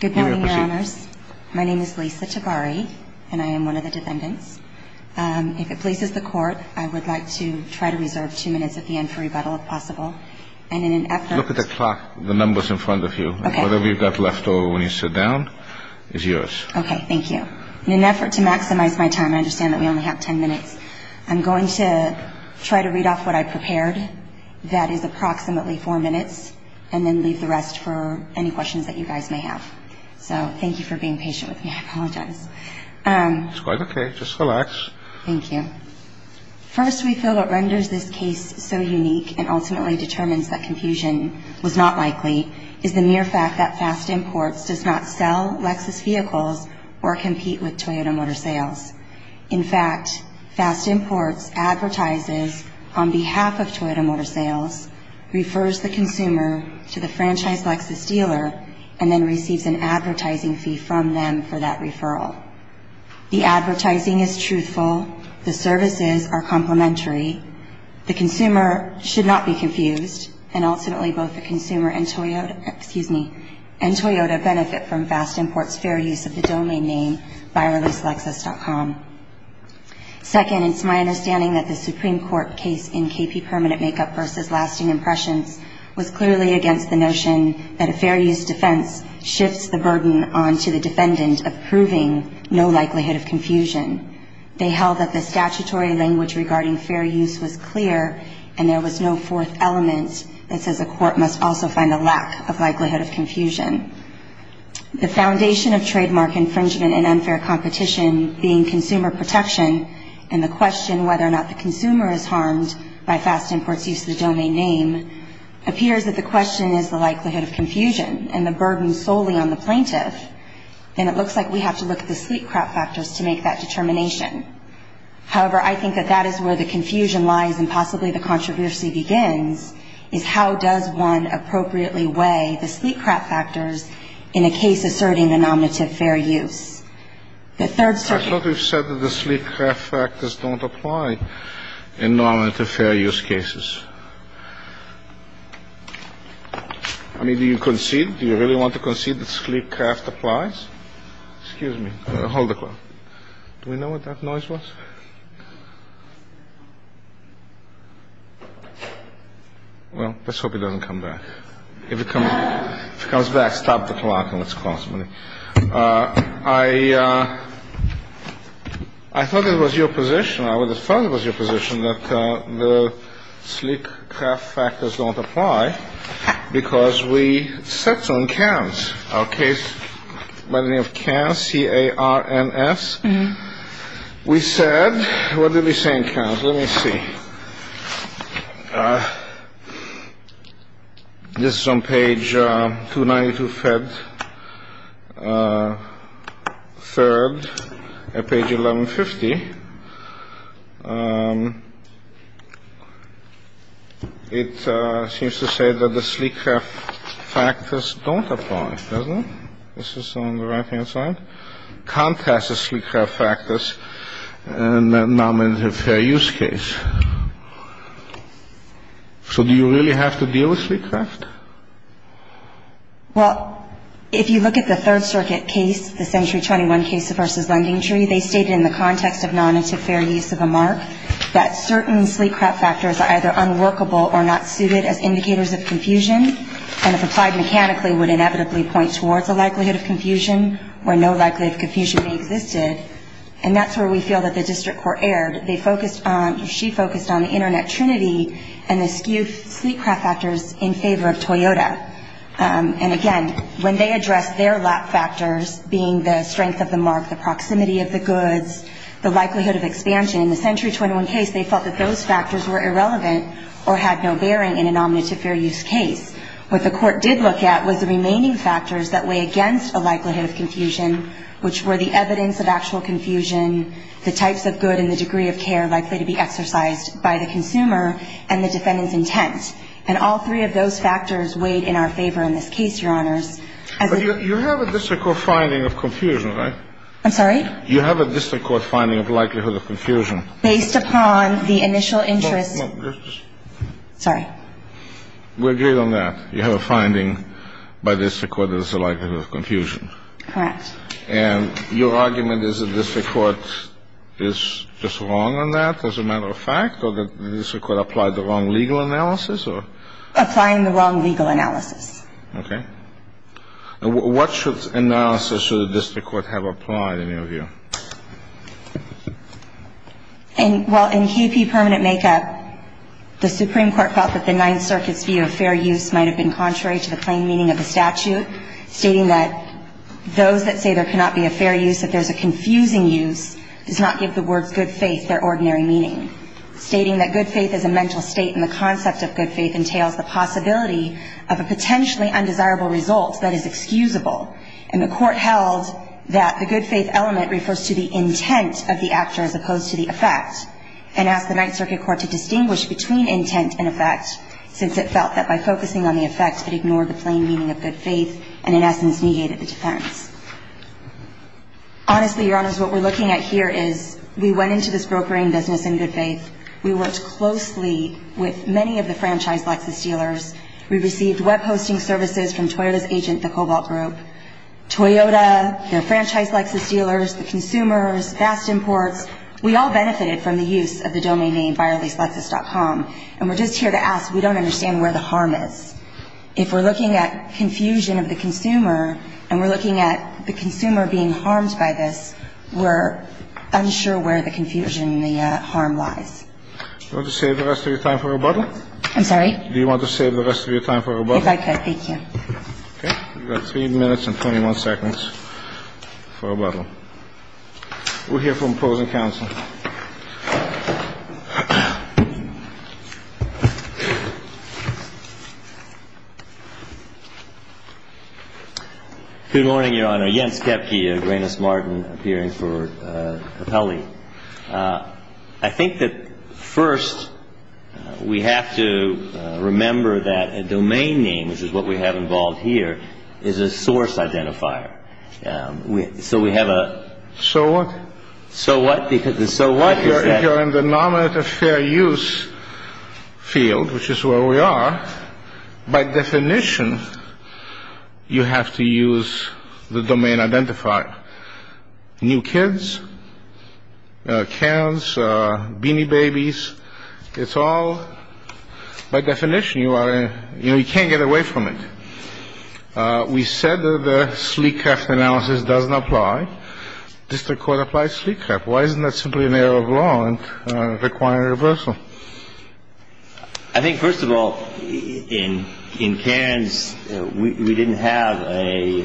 Good morning, your honors. My name is Lisa Tabari, and I am one of the defendants. If it pleases the court, I would like to try to reserve two minutes at the end for rebuttal, if possible. And in an effort... Look at the clock, the numbers in front of you. Okay. Whatever you've got left over when you sit down is yours. Okay, thank you. In an effort to maximize my time, I understand that we only have ten minutes, I'm going to try to read off what I prepared. That is approximately four minutes, and then leave the rest for any questions that you guys may have. So, thank you for being patient with me, I apologize. It's quite okay, just relax. Thank you. First, we feel what renders this case so unique and ultimately determines that confusion was not likely is the mere fact that Fast Imports does not sell Lexus vehicles or compete with Toyota Motor Sales. In fact, Fast Imports advertises on behalf of Toyota Motor Sales, refers the consumer to the franchise Lexus dealer, and then receives an advertising fee from them for that referral. The advertising is truthful, the services are complimentary, the consumer should not be confused, and ultimately both the consumer and Toyota benefit from Fast Imports' fair use of the domain name, buyerlesslexus.com. Second, it's my understanding that the Supreme Court case in KP Permanent Makeup v. Lasting Impressions was clearly against the notion that a fair use defense shifts the burden onto the defendant of proving no likelihood of confusion. They held that the statutory language regarding fair use was clear, and there was no fourth element that says a court must also find a lack of likelihood of confusion. The foundation of trademark infringement and unfair competition being consumer protection and the question whether or not the consumer is harmed by Fast Imports' use of the domain name appears that the question is the likelihood of confusion and the burden solely on the plaintiff. And it looks like we have to look at the sleek crap factors to make that determination. However, I think that that is where the confusion lies and possibly the controversy begins, is how does one appropriately weigh the sleek crap factors in a case asserting a nominative fair use. I thought you said that the sleek crap factors don't apply in nominative fair use cases. I mean, do you concede? Do you really want to concede that sleek crap applies? Excuse me. Hold the clock. Do we know what that noise was? Well, let's hope it doesn't come back. If it comes back, stop the clock and let's call somebody. I thought it was your position. I would have thought it was your position that the sleek crap factors don't apply because we set some cams. Okay. By the name of CARNS, C-A-R-N-S. We said, what did we say in CAMS? Let me see. This is on page 292, Fed 3rd, page 1150. It seems to say that the sleek crap factors don't apply. Doesn't it? This is on the right hand side. Contrast the sleek crap factors in a nominative fair use case. So do you really have to deal with sleek crap? Well, if you look at the Third Circuit case, the Century 21 case versus Lending Tree, they stated in the context of non-interfair use of a mark that certain sleek crap factors are either unworkable or not suited as indicators of confusion, and if applied mechanically, would inevitably point towards a likelihood of confusion where no likelihood of confusion existed. And that's where we feel that the district court erred. They focused on, she focused on the internet trinity and the skew sleek crap factors in favor of Toyota. And again, when they addressed their lap factors, being the strength of the mark, the proximity of the goods, the likelihood of expansion, in the Century 21 case, they felt that those factors were irrelevant or had no bearing in a nominative fair use case. What the court did look at was the remaining factors that weigh against a likelihood of confusion, which were the evidence of actual confusion, the types of good and the degree of care likely to be exercised by the consumer, and the defendant's intent. And all three of those factors weighed in our favor in this case, Your Honors. But you have a district court finding of confusion, right? I'm sorry? You have a district court finding of likelihood of confusion. Based upon the initial interest. No, no. Sorry. We agree on that. You have a finding by the district court of likelihood of confusion. Correct. And your argument is the district court is just wrong on that, as a matter of fact? Or that the district court applied the wrong legal analysis? Applying the wrong legal analysis. Okay. What analysis should the district court have applied, in your view? Well, in KP Permanent Makeup, the Supreme Court felt that the Ninth Circuit's view of fair use might have been contrary to the plain meaning of the statute, stating that those that say there cannot be a fair use if there's a confusing use does not give the word good faith their ordinary meaning. Stating that good faith is a mental state and the concept of good faith entails the possibility of a potentially undesirable result that is excusable. And the Court held that the good faith element refers to the intent of the actor as opposed to the effect, and asked the Ninth Circuit Court to distinguish between intent and effect, since it felt that by focusing on the effect, it ignored the plain meaning of good faith, and in essence, negated the defense. Honestly, Your Honors, what we're looking at here is we went into this brokering business in good faith. We worked closely with many of the franchise Lexus dealers. We received web hosting services from Toyota's agent, the Cobalt Group. Toyota, their franchise Lexus dealers, the consumers, Fast Imports, we all benefited from the use of the domain name FireLeaseLexus.com. And we're just here to ask, we don't understand where the harm is. If we're looking at confusion of the consumer and we're looking at the consumer being harmed by this, we're unsure where the confusion and the harm lies. Do you want to save the rest of your time for rebuttal? I'm sorry? Do you want to save the rest of your time for rebuttal? If I could, thank you. Okay. You've got 3 minutes and 21 seconds for rebuttal. We'll hear from opposing counsel. Good morning, Your Honor. Jens Kepke, Agranis Martin, appearing for Capelli. I think that first we have to remember that a domain name, which is what we have involved here, is a source identifier. So we have a... So what? So what? Because the so what is that? If you're in the nominative fair use field, which is where we are, by definition, you have to use the domain identifier. New kids, cans, beanie babies, it's all, by definition, you are, you know, you can't get away from it. We said that the sleek craft analysis doesn't apply. District Court applies sleek craft. Why isn't that simply an error of law and requiring reversal? I think, first of all, in cans, we didn't have a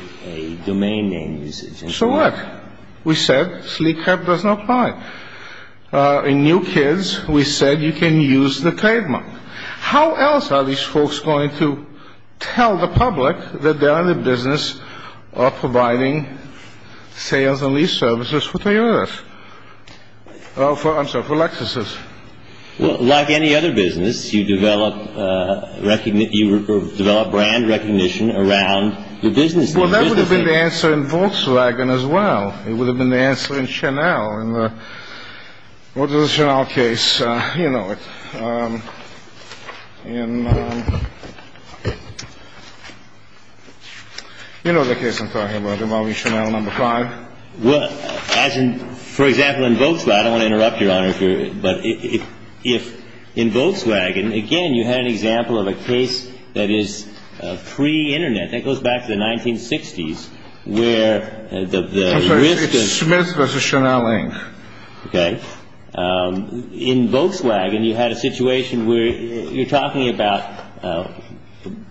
domain name usage. So what? We said sleek craft doesn't apply. In new kids, we said you can use the trademark. How else are these folks going to tell the public that they're in the business of providing sales and lease services for Toyota? I'm sorry, for Lexuses. Well, like any other business, you develop brand recognition around the business name. Well, that would have been the answer in Volkswagen as well. It would have been the answer in Chanel. Well, in the, what is the Chanel case? You know it. In, you know the case I'm talking about, involving Chanel No. 5. Well, as in, for example, in Volkswagen, I don't want to interrupt, Your Honor, if you're, but if, in Volkswagen, again, you had an example of a case that is pre-Internet, that goes back to the 1960s, where the risk of. Smith versus Chanel, Inc. Okay. In Volkswagen, you had a situation where you're talking about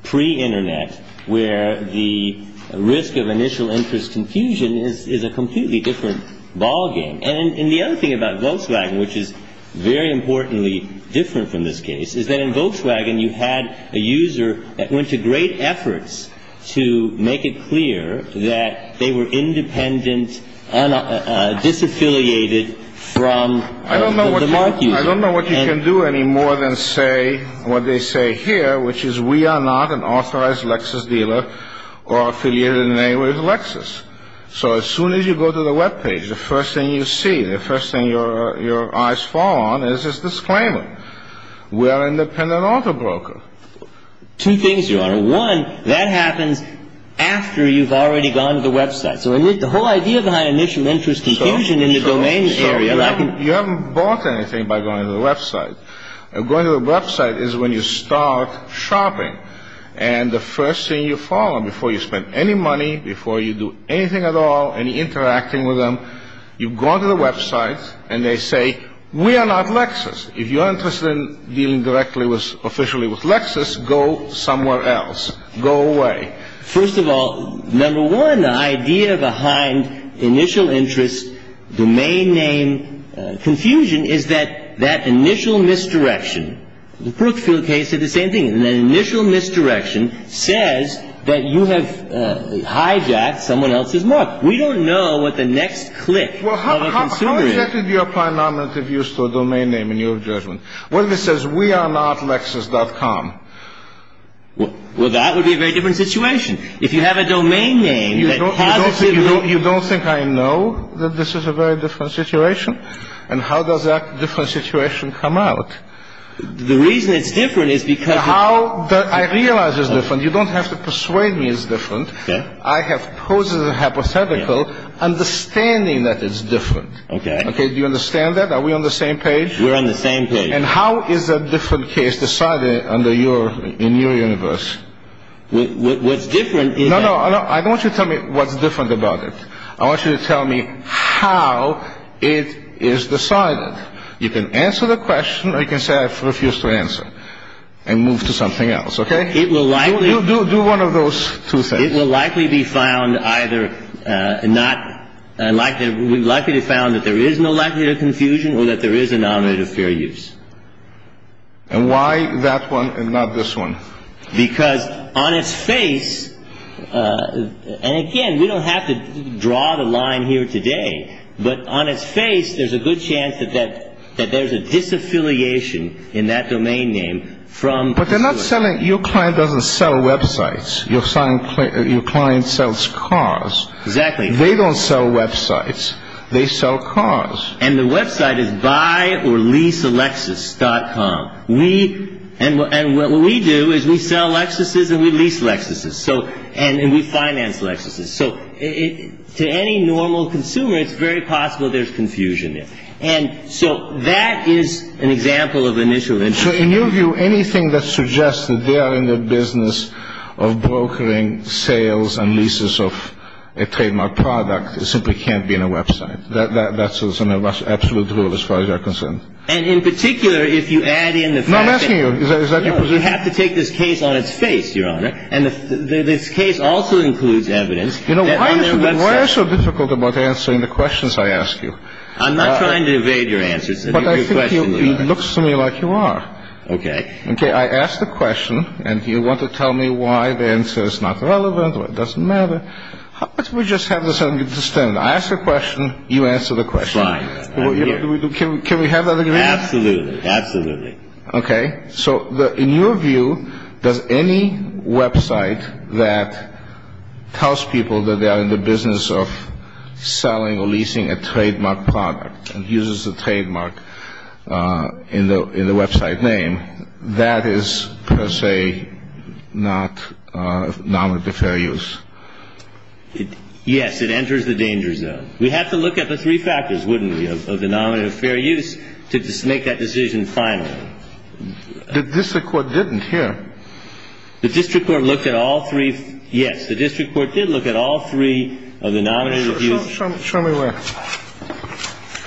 pre-Internet, where the risk of initial interest confusion is a completely different ballgame. And the other thing about Volkswagen, which is very importantly different from this case, you had a user that went to great efforts to make it clear that they were independent, disaffiliated from the market. I don't know what you can do any more than say what they say here, which is we are not an authorized Lexus dealer or affiliated in any way with Lexus. So as soon as you go to the Web page, the first thing you see, the first thing your eyes fall on is this disclaimer. We are an independent auto broker. Two things, Your Honor. One, that happens after you've already gone to the Web site. So the whole idea behind initial interest confusion in the domain area. So you haven't bought anything by going to the Web site. Going to the Web site is when you start shopping. And the first thing you follow before you spend any money, before you do anything at all, any interacting with them, you go to the Web site, and they say, we are not Lexus. If you are interested in dealing directly with, officially with Lexus, go somewhere else. Go away. First of all, number one, the idea behind initial interest domain name confusion is that that initial misdirection. The Brookfield case did the same thing. An initial misdirection says that you have hijacked someone else's mark. We don't know what the next click of a consumer is. How exactly do you apply nominative use to a domain name in your judgment? Well, it says, we are not Lexus.com. Well, that would be a very different situation. If you have a domain name that positively. You don't think I know that this is a very different situation? And how does that different situation come out? The reason it's different is because. How I realize it's different. You don't have to persuade me it's different. I have poses a hypothetical understanding that it's different. OK. OK. Do you understand that? Are we on the same page? We're on the same page. And how is a different case decided under your in your universe? What's different? No, no. I don't want you to tell me what's different about it. I want you to tell me how it is decided. You can answer the question. I can say I refuse to answer and move to something else. OK. It will likely. Do one of those two things. It will likely be found either not like that. We likely found that there is no lack of confusion or that there is a non-interference. And why that one and not this one? Because on its face. And again, we don't have to draw the line here today. But on its face, there's a good chance that that that there's a disaffiliation in that domain name from. But they're not selling. Your client doesn't sell websites. Your client sells cars. Exactly. They don't sell websites. They sell cars. And the website is buy or lease a Lexus dot com. And what we do is we sell Lexuses and we lease Lexuses. So and we finance Lexuses. So to any normal consumer, it's very possible there's confusion there. And so that is an example of an issue. So in your view, anything that suggests that they are in the business of brokering sales and leases of a trademark product, it simply can't be in a website. That's an absolute rule as far as you're concerned. And in particular, if you add in the fact that you have to take this case on its face, Your Honor, and this case also includes evidence. You know, why are you so difficult about answering the questions I ask you? I'm not trying to evade your answers. But I think he looks to me like you are. Okay. Okay, I ask the question and you want to tell me why the answer is not relevant or it doesn't matter. How about we just have this under the standard? I ask the question. You answer the question. Fine. Can we have that agreement? Absolutely. Absolutely. Okay. So in your view, does any website that tells people that they are in the business of selling or leasing a trademark product and uses the trademark in the website name, that is, per se, not nominative fair use? Yes, it enters the danger zone. We have to look at the three factors, wouldn't we, of the nominative fair use to make that decision finally. The district court didn't here. The district court looked at all three. Yes, the district court did look at all three of the nominative use. Show me where.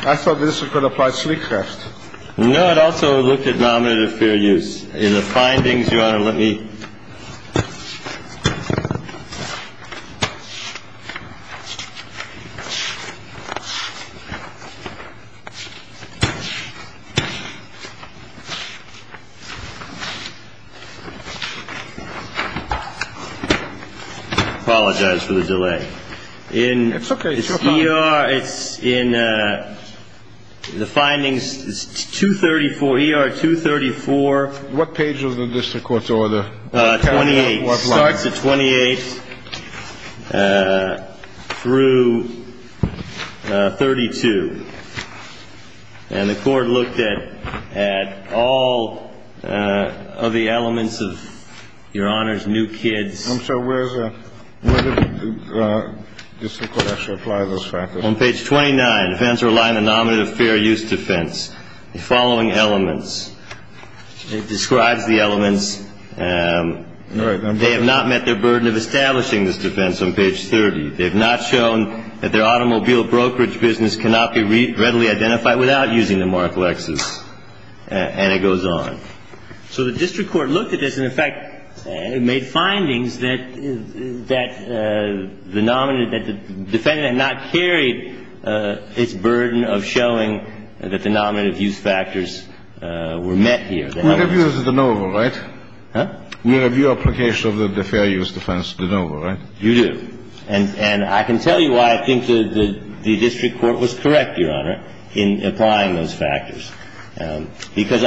I thought the district court applied Sleecraft. No, it also looked at nominative fair use. In the findings, Your Honor, let me apologize for the delay. It's okay. It's in the findings. It's 234. ER 234. What page of the district court's order? 28. Starts at 28 through 32. And the court looked at all of the elements of, Your Honors, New Kids. I'm sorry. Where does the district court actually apply those factors? On page 29. Defends or align the nominative fair use defense. The following elements. It describes the elements. All right. They have not met their burden of establishing this defense on page 30. They have not shown that their automobile brokerage business cannot be readily identified without using the mark Lexus. And it goes on. So the district court looked at this and, in fact, made findings that the defendant had not carried its burden of showing that the nominative use factors were met here. We have used de novo, right? Huh? We have your application of the fair use defense de novo, right? You do. And I can tell you why I think the district court was correct, Your Honor, in applying those factors. Because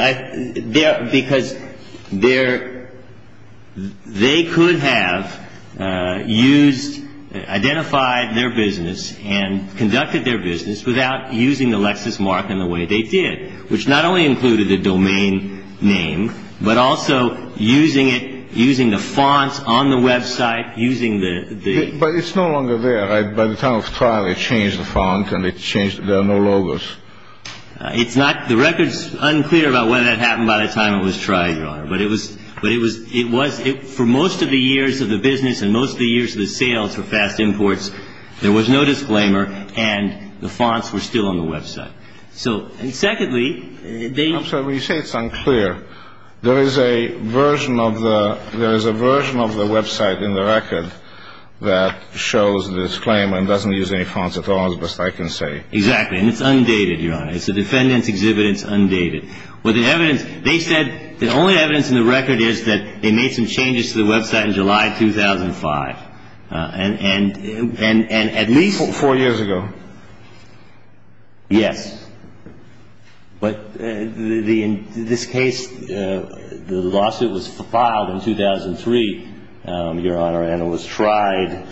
they could have used, identified their business and conducted their business without using the Lexus mark in the way they did, which not only included the domain name, but also using it, using the fonts on the Web site, using the. But it's no longer there. By the time of trial, they changed the font and they changed. There are no logos. It's not. The record's unclear about whether that happened by the time it was tried, Your Honor. But it was. But it was. It was. For most of the years of the business and most of the years of the sales for fast imports, there was no disclaimer. And the fonts were still on the Web site. So. And secondly, they. So you say it's unclear. There is a version of the. There is a version of the Web site in the record that shows this claim and doesn't use any fonts at all, as best I can say. Exactly. And it's undated, Your Honor. It's a defendant's exhibit. It's undated. Well, the evidence. They said the only evidence in the record is that they made some changes to the Web site in July 2005. And at least. Four years ago. Yes. But in this case, the lawsuit was filed in 2003, Your Honor. And it was tried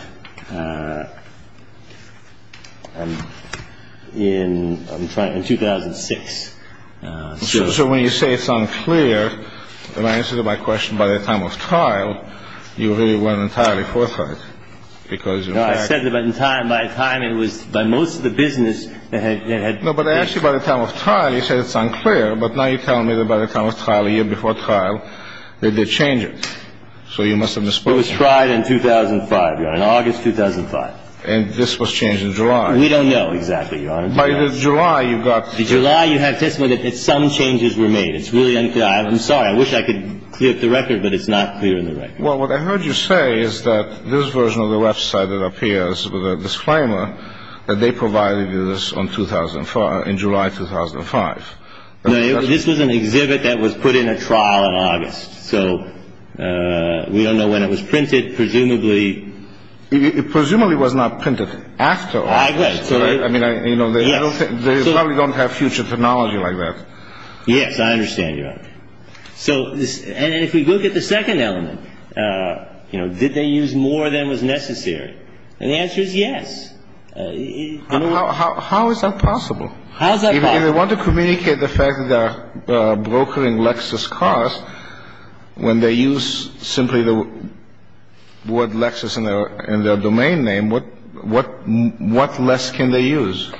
in 2006. So when you say it's unclear, and I answer to my question by the time of trial, you really weren't entirely forthright because. I said that in time. By time, it was by most of the business that had. No, but actually by the time of trial, you said it's unclear. But now you're telling me that by the time of trial, a year before trial, they did change it. So you must have misspoke. It was tried in 2005, Your Honor. In August 2005. And this was changed in July. We don't know exactly, Your Honor. By July, you got. In July, you had testimony that some changes were made. It's really unclear. I'm sorry. I wish I could clear up the record, but it's not clear in the record. Well, what I heard you say is that this version of the website that appears with a disclaimer that they provided you this in July 2005. This was an exhibit that was put in a trial in August. So we don't know when it was printed. Presumably. It presumably was not printed after August. I mean, you know, they probably don't have future technology like that. Yes, I understand, Your Honor. And if we look at the second element, you know, did they use more than was necessary? And the answer is yes. How is that possible? How is that possible? If they want to communicate the fact that they're brokering Lexus cars, when they use simply the word Lexus in their domain name, what less can they use?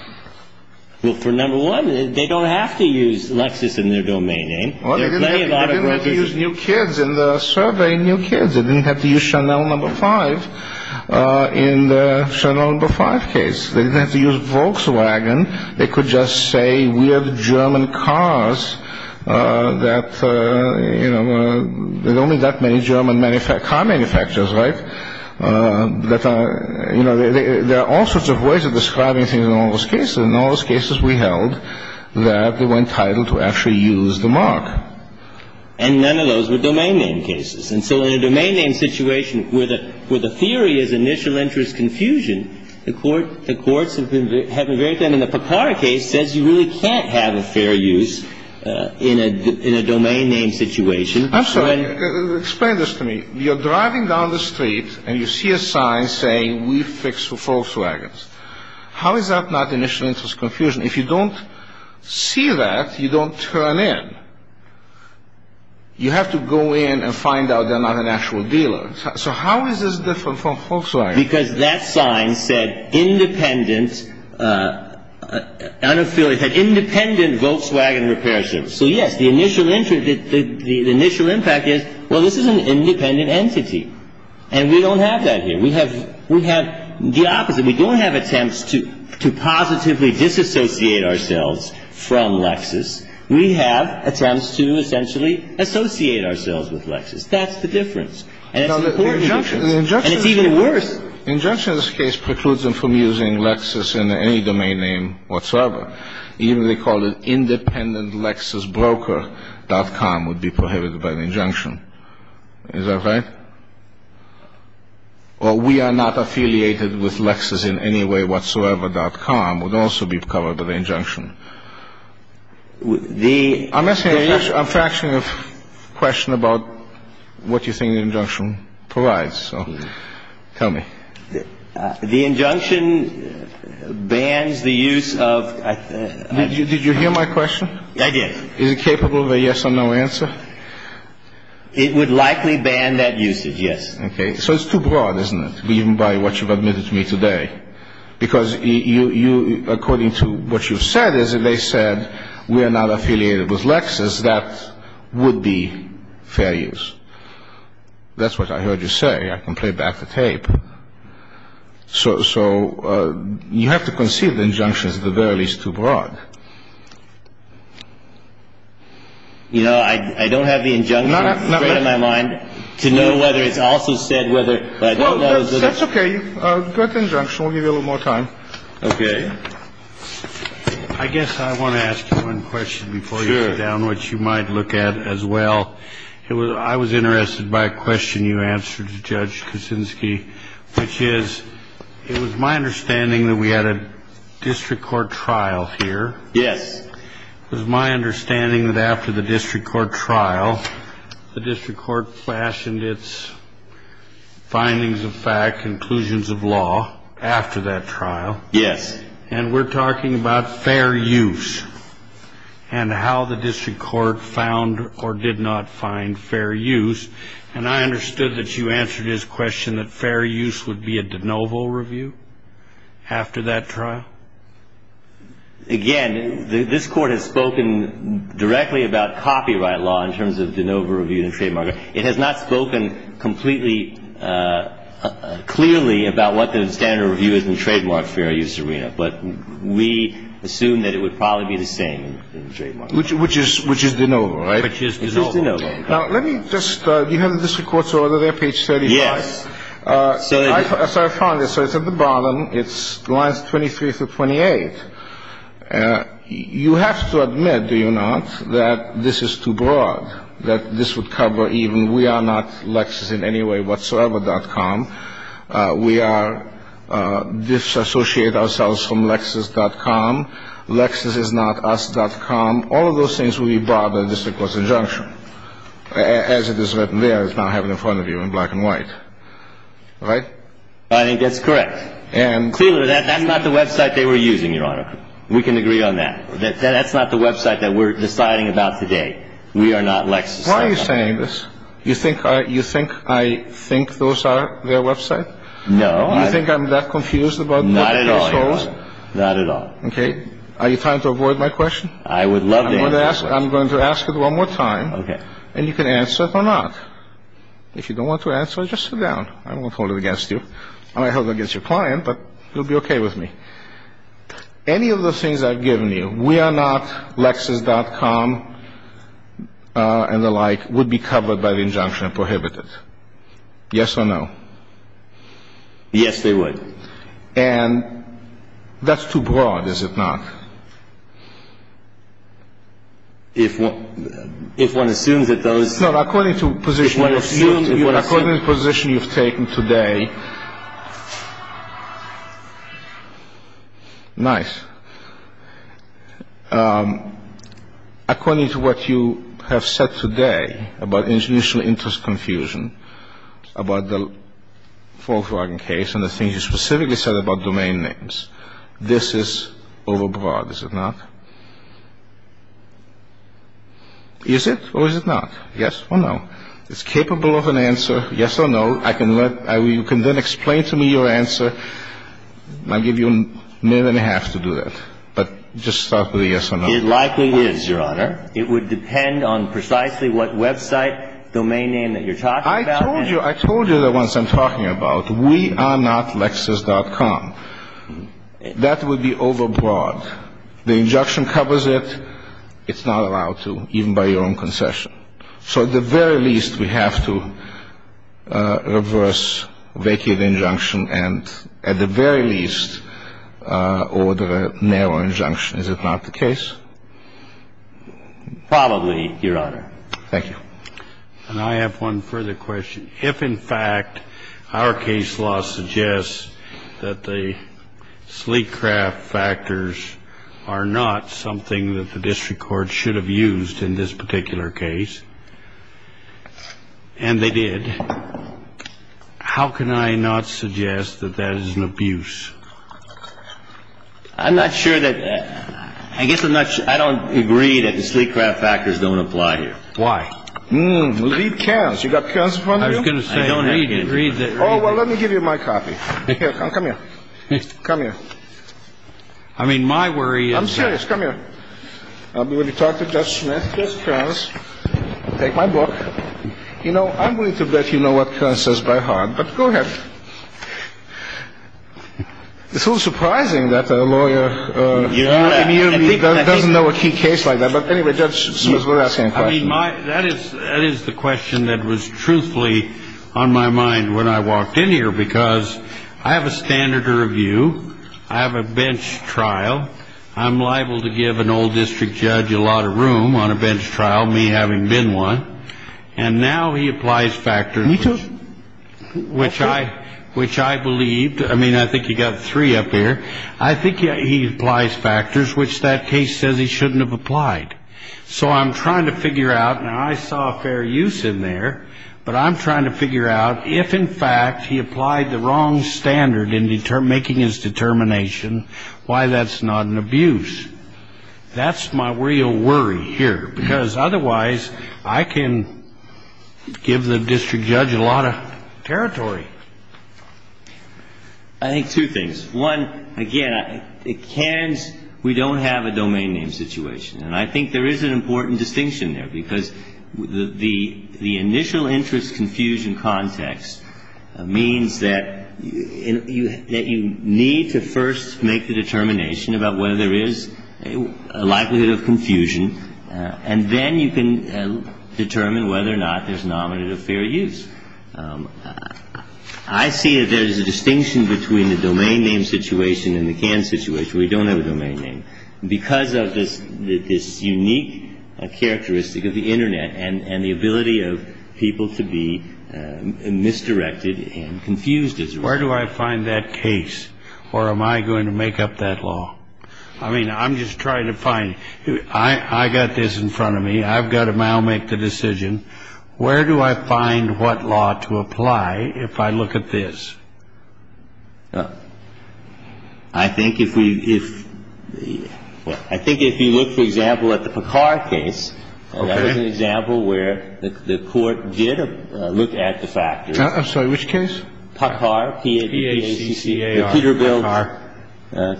Well, for number one, they don't have to use Lexus in their domain name. They're playing out of Lexus. They didn't have to use New Kids in the survey, New Kids. They didn't have to use Chanel No. 5 in the Chanel No. 5 case. They didn't have to use Volkswagen. They could just say we have German cars that, you know, there are only that many German car manufacturers, right? You know, there are all sorts of ways of describing things in all those cases. In all those cases, we held that they weren't entitled to actually use the mark. And none of those were domain name cases. And so in a domain name situation where the theory is initial interest confusion, the courts have been very clear. And the Papara case says you really can't have a fair use in a domain name situation. I'm sorry. Explain this to me. You're driving down the street and you see a sign saying we fix for Volkswagens. How is that not initial interest confusion? If you don't see that, you don't turn in. You have to go in and find out they're not an actual dealer. So how is this different from Volkswagens? Because that sign said independent, un-affiliated, independent Volkswagen repair shop. So yes, the initial interest, the initial impact is, well, this is an independent entity. And we don't have that here. We have the opposite. We don't have attempts to positively disassociate ourselves from Lexis. We have attempts to essentially associate ourselves with Lexis. That's the difference. And it's important. And it's even worse. The injunction in this case precludes them from using Lexis in any domain name whatsoever. Even they call it independentlexisbroker.com would be prohibited by the injunction. Is that right? Or we are not affiliated with Lexis in any way whatsoever.com would also be covered by the injunction. I'm asking a fraction of question about what you think the injunction provides. So tell me. The injunction bans the use of the ---- Did you hear my question? I did. Is it capable of a yes or no answer? It would likely ban that usage, yes. Okay. So it's too broad, isn't it, even by what you've admitted to me today? Because you, according to what you've said, is that they said we are not affiliated with Lexis. That would be fair use. That's what I heard you say. I don't have the injunction in front of my mind to know whether it's also said whether, but I don't know. That's okay. You've got the injunction. We'll give you a little more time. Okay. I guess I want to ask you one question before you go down, which you might look at as well. I was interested by a question you answered, Judge. It was my understanding that we had a district court trial here. Yes. It was my understanding that after the district court trial, the district court fashioned its findings of fact, conclusions of law, after that trial. Yes. And we're talking about fair use and how the district court found or did not find fair use. And I understood that you answered his question that fair use would be a de novo review after that trial. Again, this Court has spoken directly about copyright law in terms of de novo review and trademark. It has not spoken completely clearly about what the standard review is in trademark fair use arena. But we assume that it would probably be the same in trademark. Which is de novo, right? Which is de novo. Now, let me just, do you have the district court's order there, page 35? Yes. So I found it. So it's at the bottom. It's lines 23 through 28. You have to admit, do you not, that this is too broad, that this would cover even we are not Lexus in any way whatsoever.com. We are disassociate ourselves from Lexus.com. Lexus is not us.com. All of those things would be brought by the district court's injunction. As it is written there, it's not happening in front of you in black and white. Right? I think that's correct. Clearly, that's not the website they were using, Your Honor. We can agree on that. That's not the website that we're deciding about today. We are not Lexus.com. Why are you saying this? You think I think those are their website? No. You think I'm that confused about what they chose? Not at all, Your Honor. Not at all. Okay. Are you trying to avoid my question? I would love to answer it. I'm going to ask it one more time. Okay. And you can answer it or not. If you don't want to answer it, just sit down. I won't hold it against you. I might hold it against your client, but you'll be okay with me. Any of the things I've given you, we are not Lexus.com, and the like, would be covered by the injunction and prohibited. Yes or no? Yes, they would. And that's too broad, is it not? If one assumes that those No. According to the position you've taken today. Nice. According to what you have said today about institutional interest confusion, about the Volkswagen case and the things you specifically said about domain names, this is overbroad, is it not? Is it or is it not? Yes or no? It's capable of an answer, yes or no. You can then explain to me your answer. I'll give you a minute and a half to do that. But just start with a yes or no. It likely is, Your Honor. It would depend on precisely what website, domain name that you're talking about. I told you the ones I'm talking about. We are not Lexus.com. That would be overbroad. The injunction covers it. It's not allowed to, even by your own concession. So at the very least, we have to reverse vacate the injunction and, at the very least, order a narrow injunction. Is it not the case? Probably, Your Honor. Thank you. And I have one further question. If, in fact, our case law suggests that the sleek craft factors are not something that the district court should have used in this particular case, and they did, how can I not suggest that that is an abuse? I'm not sure that the – I guess I'm not – I don't agree that the sleek craft factors don't apply here. Why? Well, read Kearns. You got Kearns in front of you? I was going to say read him. Oh, well, let me give you my copy. Here, come here. Come here. I mean, my worry is – I'm serious. Come here. I'm going to talk to Judge Smith, Judge Kearns, take my book. You know, I'm willing to bet you know what Kearns says by heart, but go ahead. It's a little surprising that a lawyer doesn't know a key case like that. But anyway, Judge Smith, we're asking a question. I mean, that is the question that was truthfully on my mind when I walked in here, because I have a standard to review. I have a bench trial. I'm liable to give an old district judge a lot of room on a bench trial, me having been one. And now he applies factors which I believed – I mean, I think you've got three up here. I think he applies factors which that case says he shouldn't have applied. So I'm trying to figure out – now, I saw a fair use in there, but I'm trying to figure out if, in fact, he applied the wrong standard in making his determination, why that's not an abuse. That's my real worry here, because otherwise I can give the district judge a lot of territory. I think two things. One, again, at Kearns, we don't have a domain name situation. And I think there is an important distinction there, because the initial interest confusion context means that you need to first make the determination about whether there is a likelihood of confusion, and then you can determine whether or not there's an omnibus of fair use. I see that there's a distinction between the domain name situation and the Kearns situation. We don't have a domain name, because of this unique characteristic of the Internet and the ability of people to be misdirected and confused. Where do I find that case, or am I going to make up that law? I mean, I'm just trying to find. I've got this in front of me. I've got to now make the decision. Where do I find what law to apply if I look at this? I think if we – if – I think if you look, for example, at the Picard case. Okay. That was an example where the Court did look at the factors. I'm sorry. Which case? Picard. P-A-C-C-A-R. Peterbilt. Picard.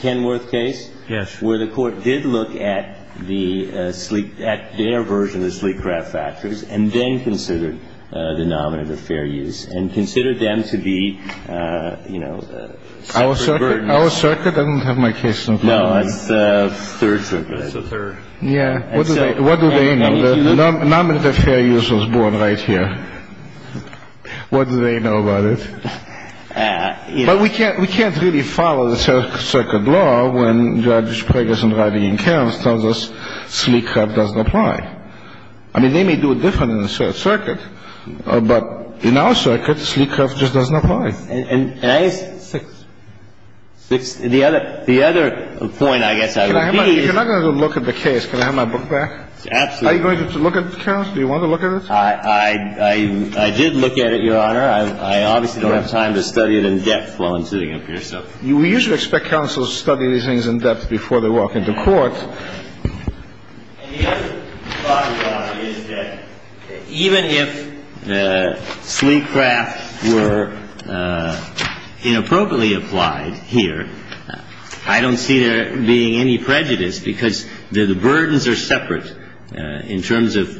Kenworth case. Yes. Where the Court did look at the sleek – at their version of the sleek craft factors and then considered the nominative fair use and considered them to be, you know, separate burdens. Our circuit doesn't have my case in front of it. No. It's a third circuit. It's a third. Yeah. What do they know? The nominative fair use was born right here. What do they know about it? But we can't – we can't really follow the circuit law when Judge Preggers and Reidy and Cairns tells us sleek craft doesn't apply. I mean, they may do it different in the circuit, but in our circuit, sleek craft just doesn't apply. And I – Six. Six. The other – the other point, I guess, I would be is – You're not going to look at the case. Can I have my book back? Absolutely. Are you going to look at it, Cairns? Do you want to look at it? I did look at it, Your Honor. I obviously don't have time to study it in depth while I'm sitting up here, so. We usually expect counsels to study these things in depth before they walk into court. And the other thought, Your Honor, is that even if sleek craft were inappropriately applied here, I don't see there being any prejudice because the burdens are separate in terms of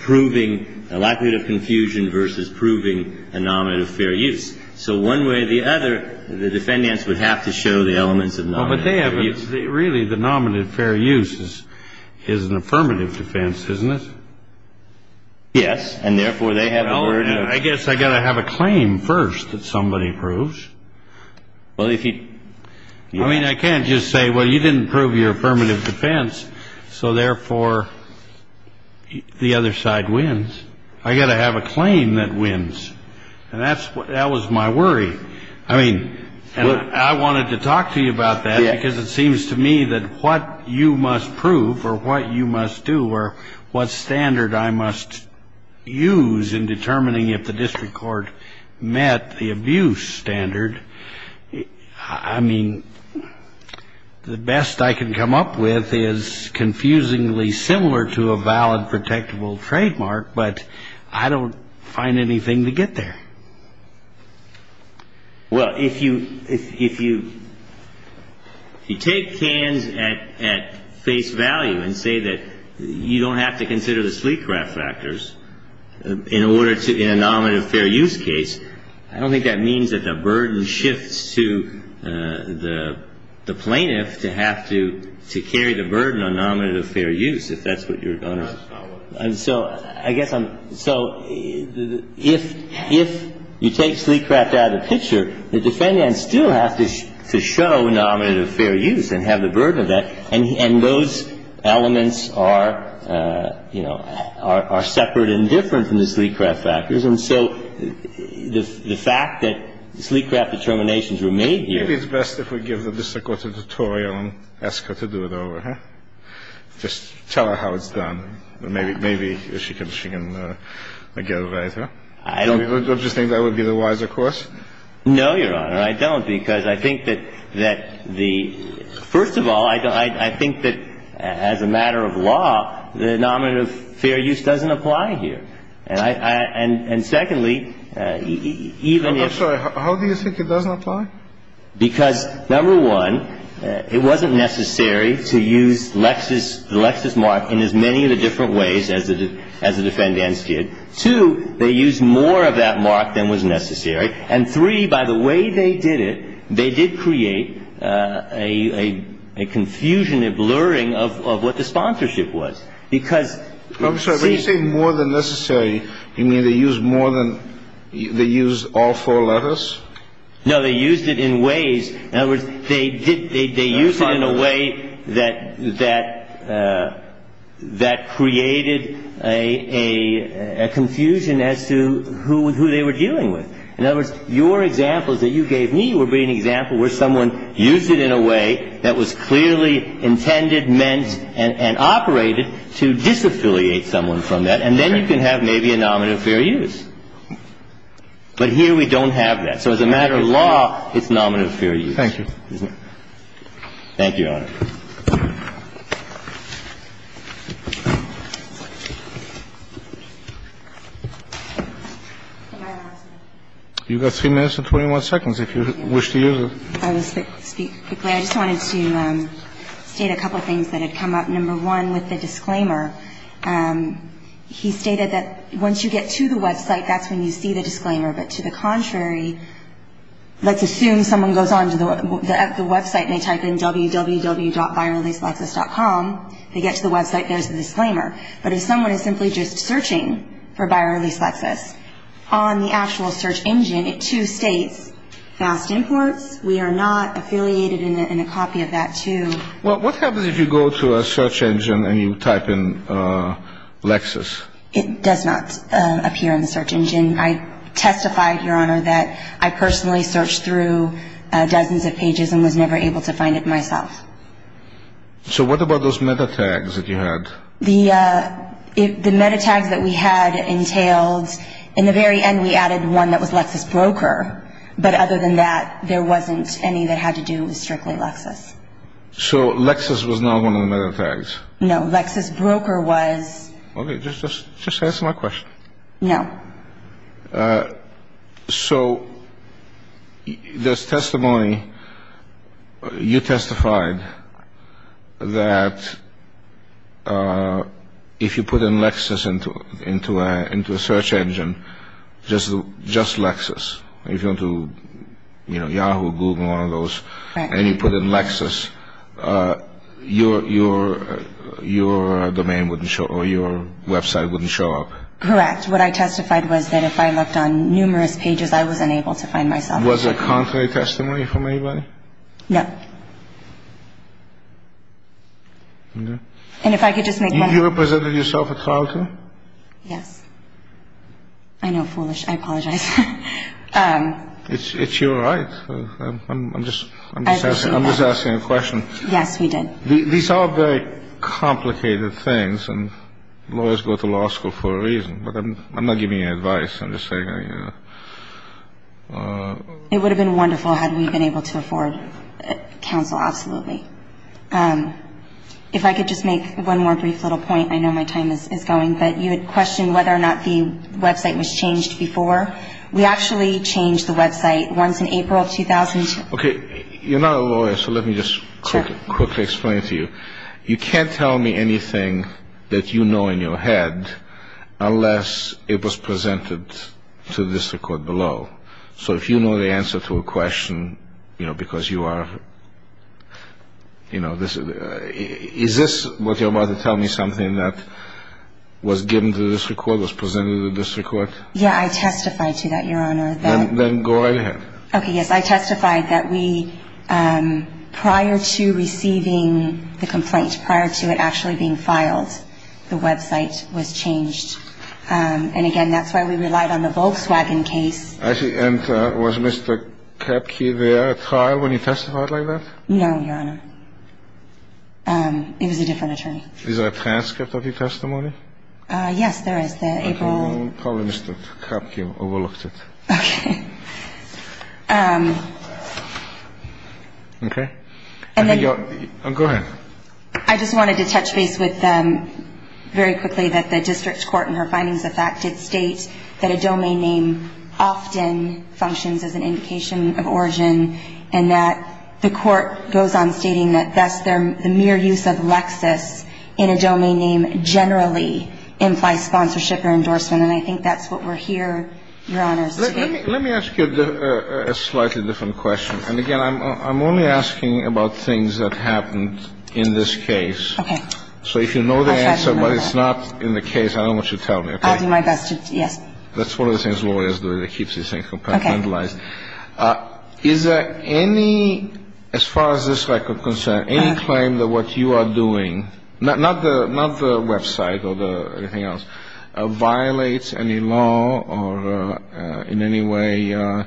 proving the likelihood of confusion versus proving a nominative fair use. So one way or the other, the defendants would have to show the elements of nominative fair use. Well, but they have – really, the nominative fair use is an affirmative defense, isn't it? Yes. And therefore, they have a burden. I guess I've got to have a claim first that somebody proves. Well, if you – I mean, I can't just say, well, you didn't prove your affirmative defense, so therefore, the other side wins. I've got to have a claim that wins. And that was my worry. I mean, I wanted to talk to you about that because it seems to me that what you must prove or what you must do or what standard I must use in determining if the district court met the abuse standard, I mean, the best I can come up with is confusingly similar to a valid protectable trademark, but I don't find anything to get there. Well, if you take Kans at face value and say that you don't have to consider the sleek craft factors in order to – in a nominative fair use case, I don't think that means that the burden shifts to the plaintiff to have to carry the burden on nominative fair use, if that's what you're going to – And so I guess I'm – so if you take sleek craft out of the picture, the defendant still has to show nominative fair use and have the burden of that, and those elements are, you know, are separate and different from the sleek craft factors. And so the fact that sleek craft determinations were made here – Maybe it's best if we give the district court a tutorial and ask her to do it over, huh? Just tell her how it's done. Maybe she can get it right. Don't you think that would be the wiser course? No, Your Honor. I don't, because I think that the – first of all, I think that as a matter of law, the nominative fair use doesn't apply here. And secondly, even if – I'm sorry. How do you think it doesn't apply? Because, number one, it wasn't necessary to use the Lexis mark in as many of the different ways as the defendants did. Two, they used more of that mark than was necessary. And three, by the way they did it, they did create a confusion, a blurring of what the sponsorship was. Because – I'm sorry. When you say more than necessary, you mean they used more than – they used all four letters? No, they used it in ways – in other words, they did – they used it in a way that created a confusion as to who they were dealing with. In other words, your examples that you gave me would be an example where someone used it in a way that was clearly intended, meant, and operated to disaffiliate someone from that. And then you can have maybe a nominative fair use. But here we don't have that. So as a matter of law, it's nominative fair use. Thank you. Thank you, Your Honor. You've got three minutes and 21 seconds if you wish to use it. I will speak quickly. I just wanted to state a couple of things that had come up. Number one, with the disclaimer. He stated that once you get to the website, that's when you see the disclaimer. But to the contrary, let's assume someone goes on to the website and they type in www.buyerreleaselexus.com, they get to the website, there's the disclaimer. But if someone is simply just searching for Buyer Release Lexus on the actual search engine, it, too, states fast imports. We are not affiliated in a copy of that, too. Well, what happens if you go to a search engine and you type in Lexus? It does not appear in the search engine. I testified, Your Honor, that I personally searched through dozens of pages and was never able to find it myself. So what about those meta tags that you had? The meta tags that we had entailed in the very end we added one that was Lexus broker. But other than that, there wasn't any that had to do with strictly Lexus. So Lexus was not one of the meta tags? No, Lexus broker was. Okay, just answer my question. No. So this testimony, you testified that if you put in Lexus into a search engine, just Lexus, if you went to Yahoo, Google, one of those, and you put in Lexus, your domain wouldn't show up or your website wouldn't show up? Correct. What I testified was that if I looked on numerous pages, I wasn't able to find myself. Was it contrary testimony from anybody? No. And if I could just make one point. You represented yourself at trial, too? Yes. I know, foolish. I apologize. It's your right. I'm just asking a question. Yes, we did. These are very complicated things, and lawyers go to law school for a reason. But I'm not giving you advice. I'm just saying. It would have been wonderful had we been able to afford counsel, absolutely. If I could just make one more brief little point. I know my time is going. But you had questioned whether or not the website was changed before. We actually changed the website once in April 2002. Okay. You're not a lawyer, so let me just quickly explain it to you. You can't tell me anything that you know in your head unless it was presented to the district court below. So if you know the answer to a question, you know, because you are, you know, is this what you're about to tell me, something that was given to the district court, was presented to the district court? Yeah, I testified to that, Your Honor. Then go right ahead. Okay, yes. I testified that we, prior to receiving the complaint, prior to it actually being filed, the website was changed. And, again, that's why we relied on the Volkswagen case. And was Mr. Krapke there at trial when he testified like that? No, Your Honor. It was a different attorney. Is there a transcript of your testimony? Yes, there is. The April. Probably Mr. Krapke overlooked it. Okay. Okay. And then. Go ahead. I just wanted to touch base with very quickly that the district court in her findings of fact did state that a domain name often functions as an indication of origin and that the court goes on stating that thus the mere use of Lexis in a domain name generally implies sponsorship or endorsement. And I think that's what we're here, Your Honors, to do. Let me ask you a slightly different question. And, again, I'm only asking about things that happened in this case. Okay. So if you know the answer but it's not in the case, I don't want you to tell me, okay? I'll do my best. Yes. That's one of the things lawyers do. They keep these things compartmentalized. Okay. Is there any, as far as this record concerns, any claim that what you are doing, not the website or anything else, violates any law or in any way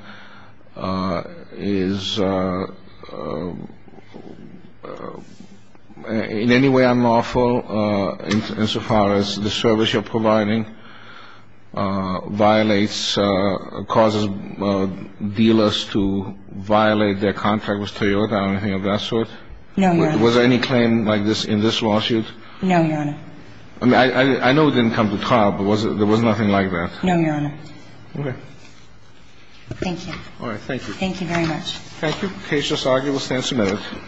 is, in any way unlawful insofar as the service you're providing violates, causes dealers to violate their contract with Toyota or anything of that sort? No, Your Honor. Was there any claim like this in this lawsuit? No, Your Honor. I mean, I know it didn't come to trial, but there was nothing like that. No, Your Honor. Okay. Thank you. All right. Thank you. Thank you very much. Thank you. The case is argued. We'll stand some minutes.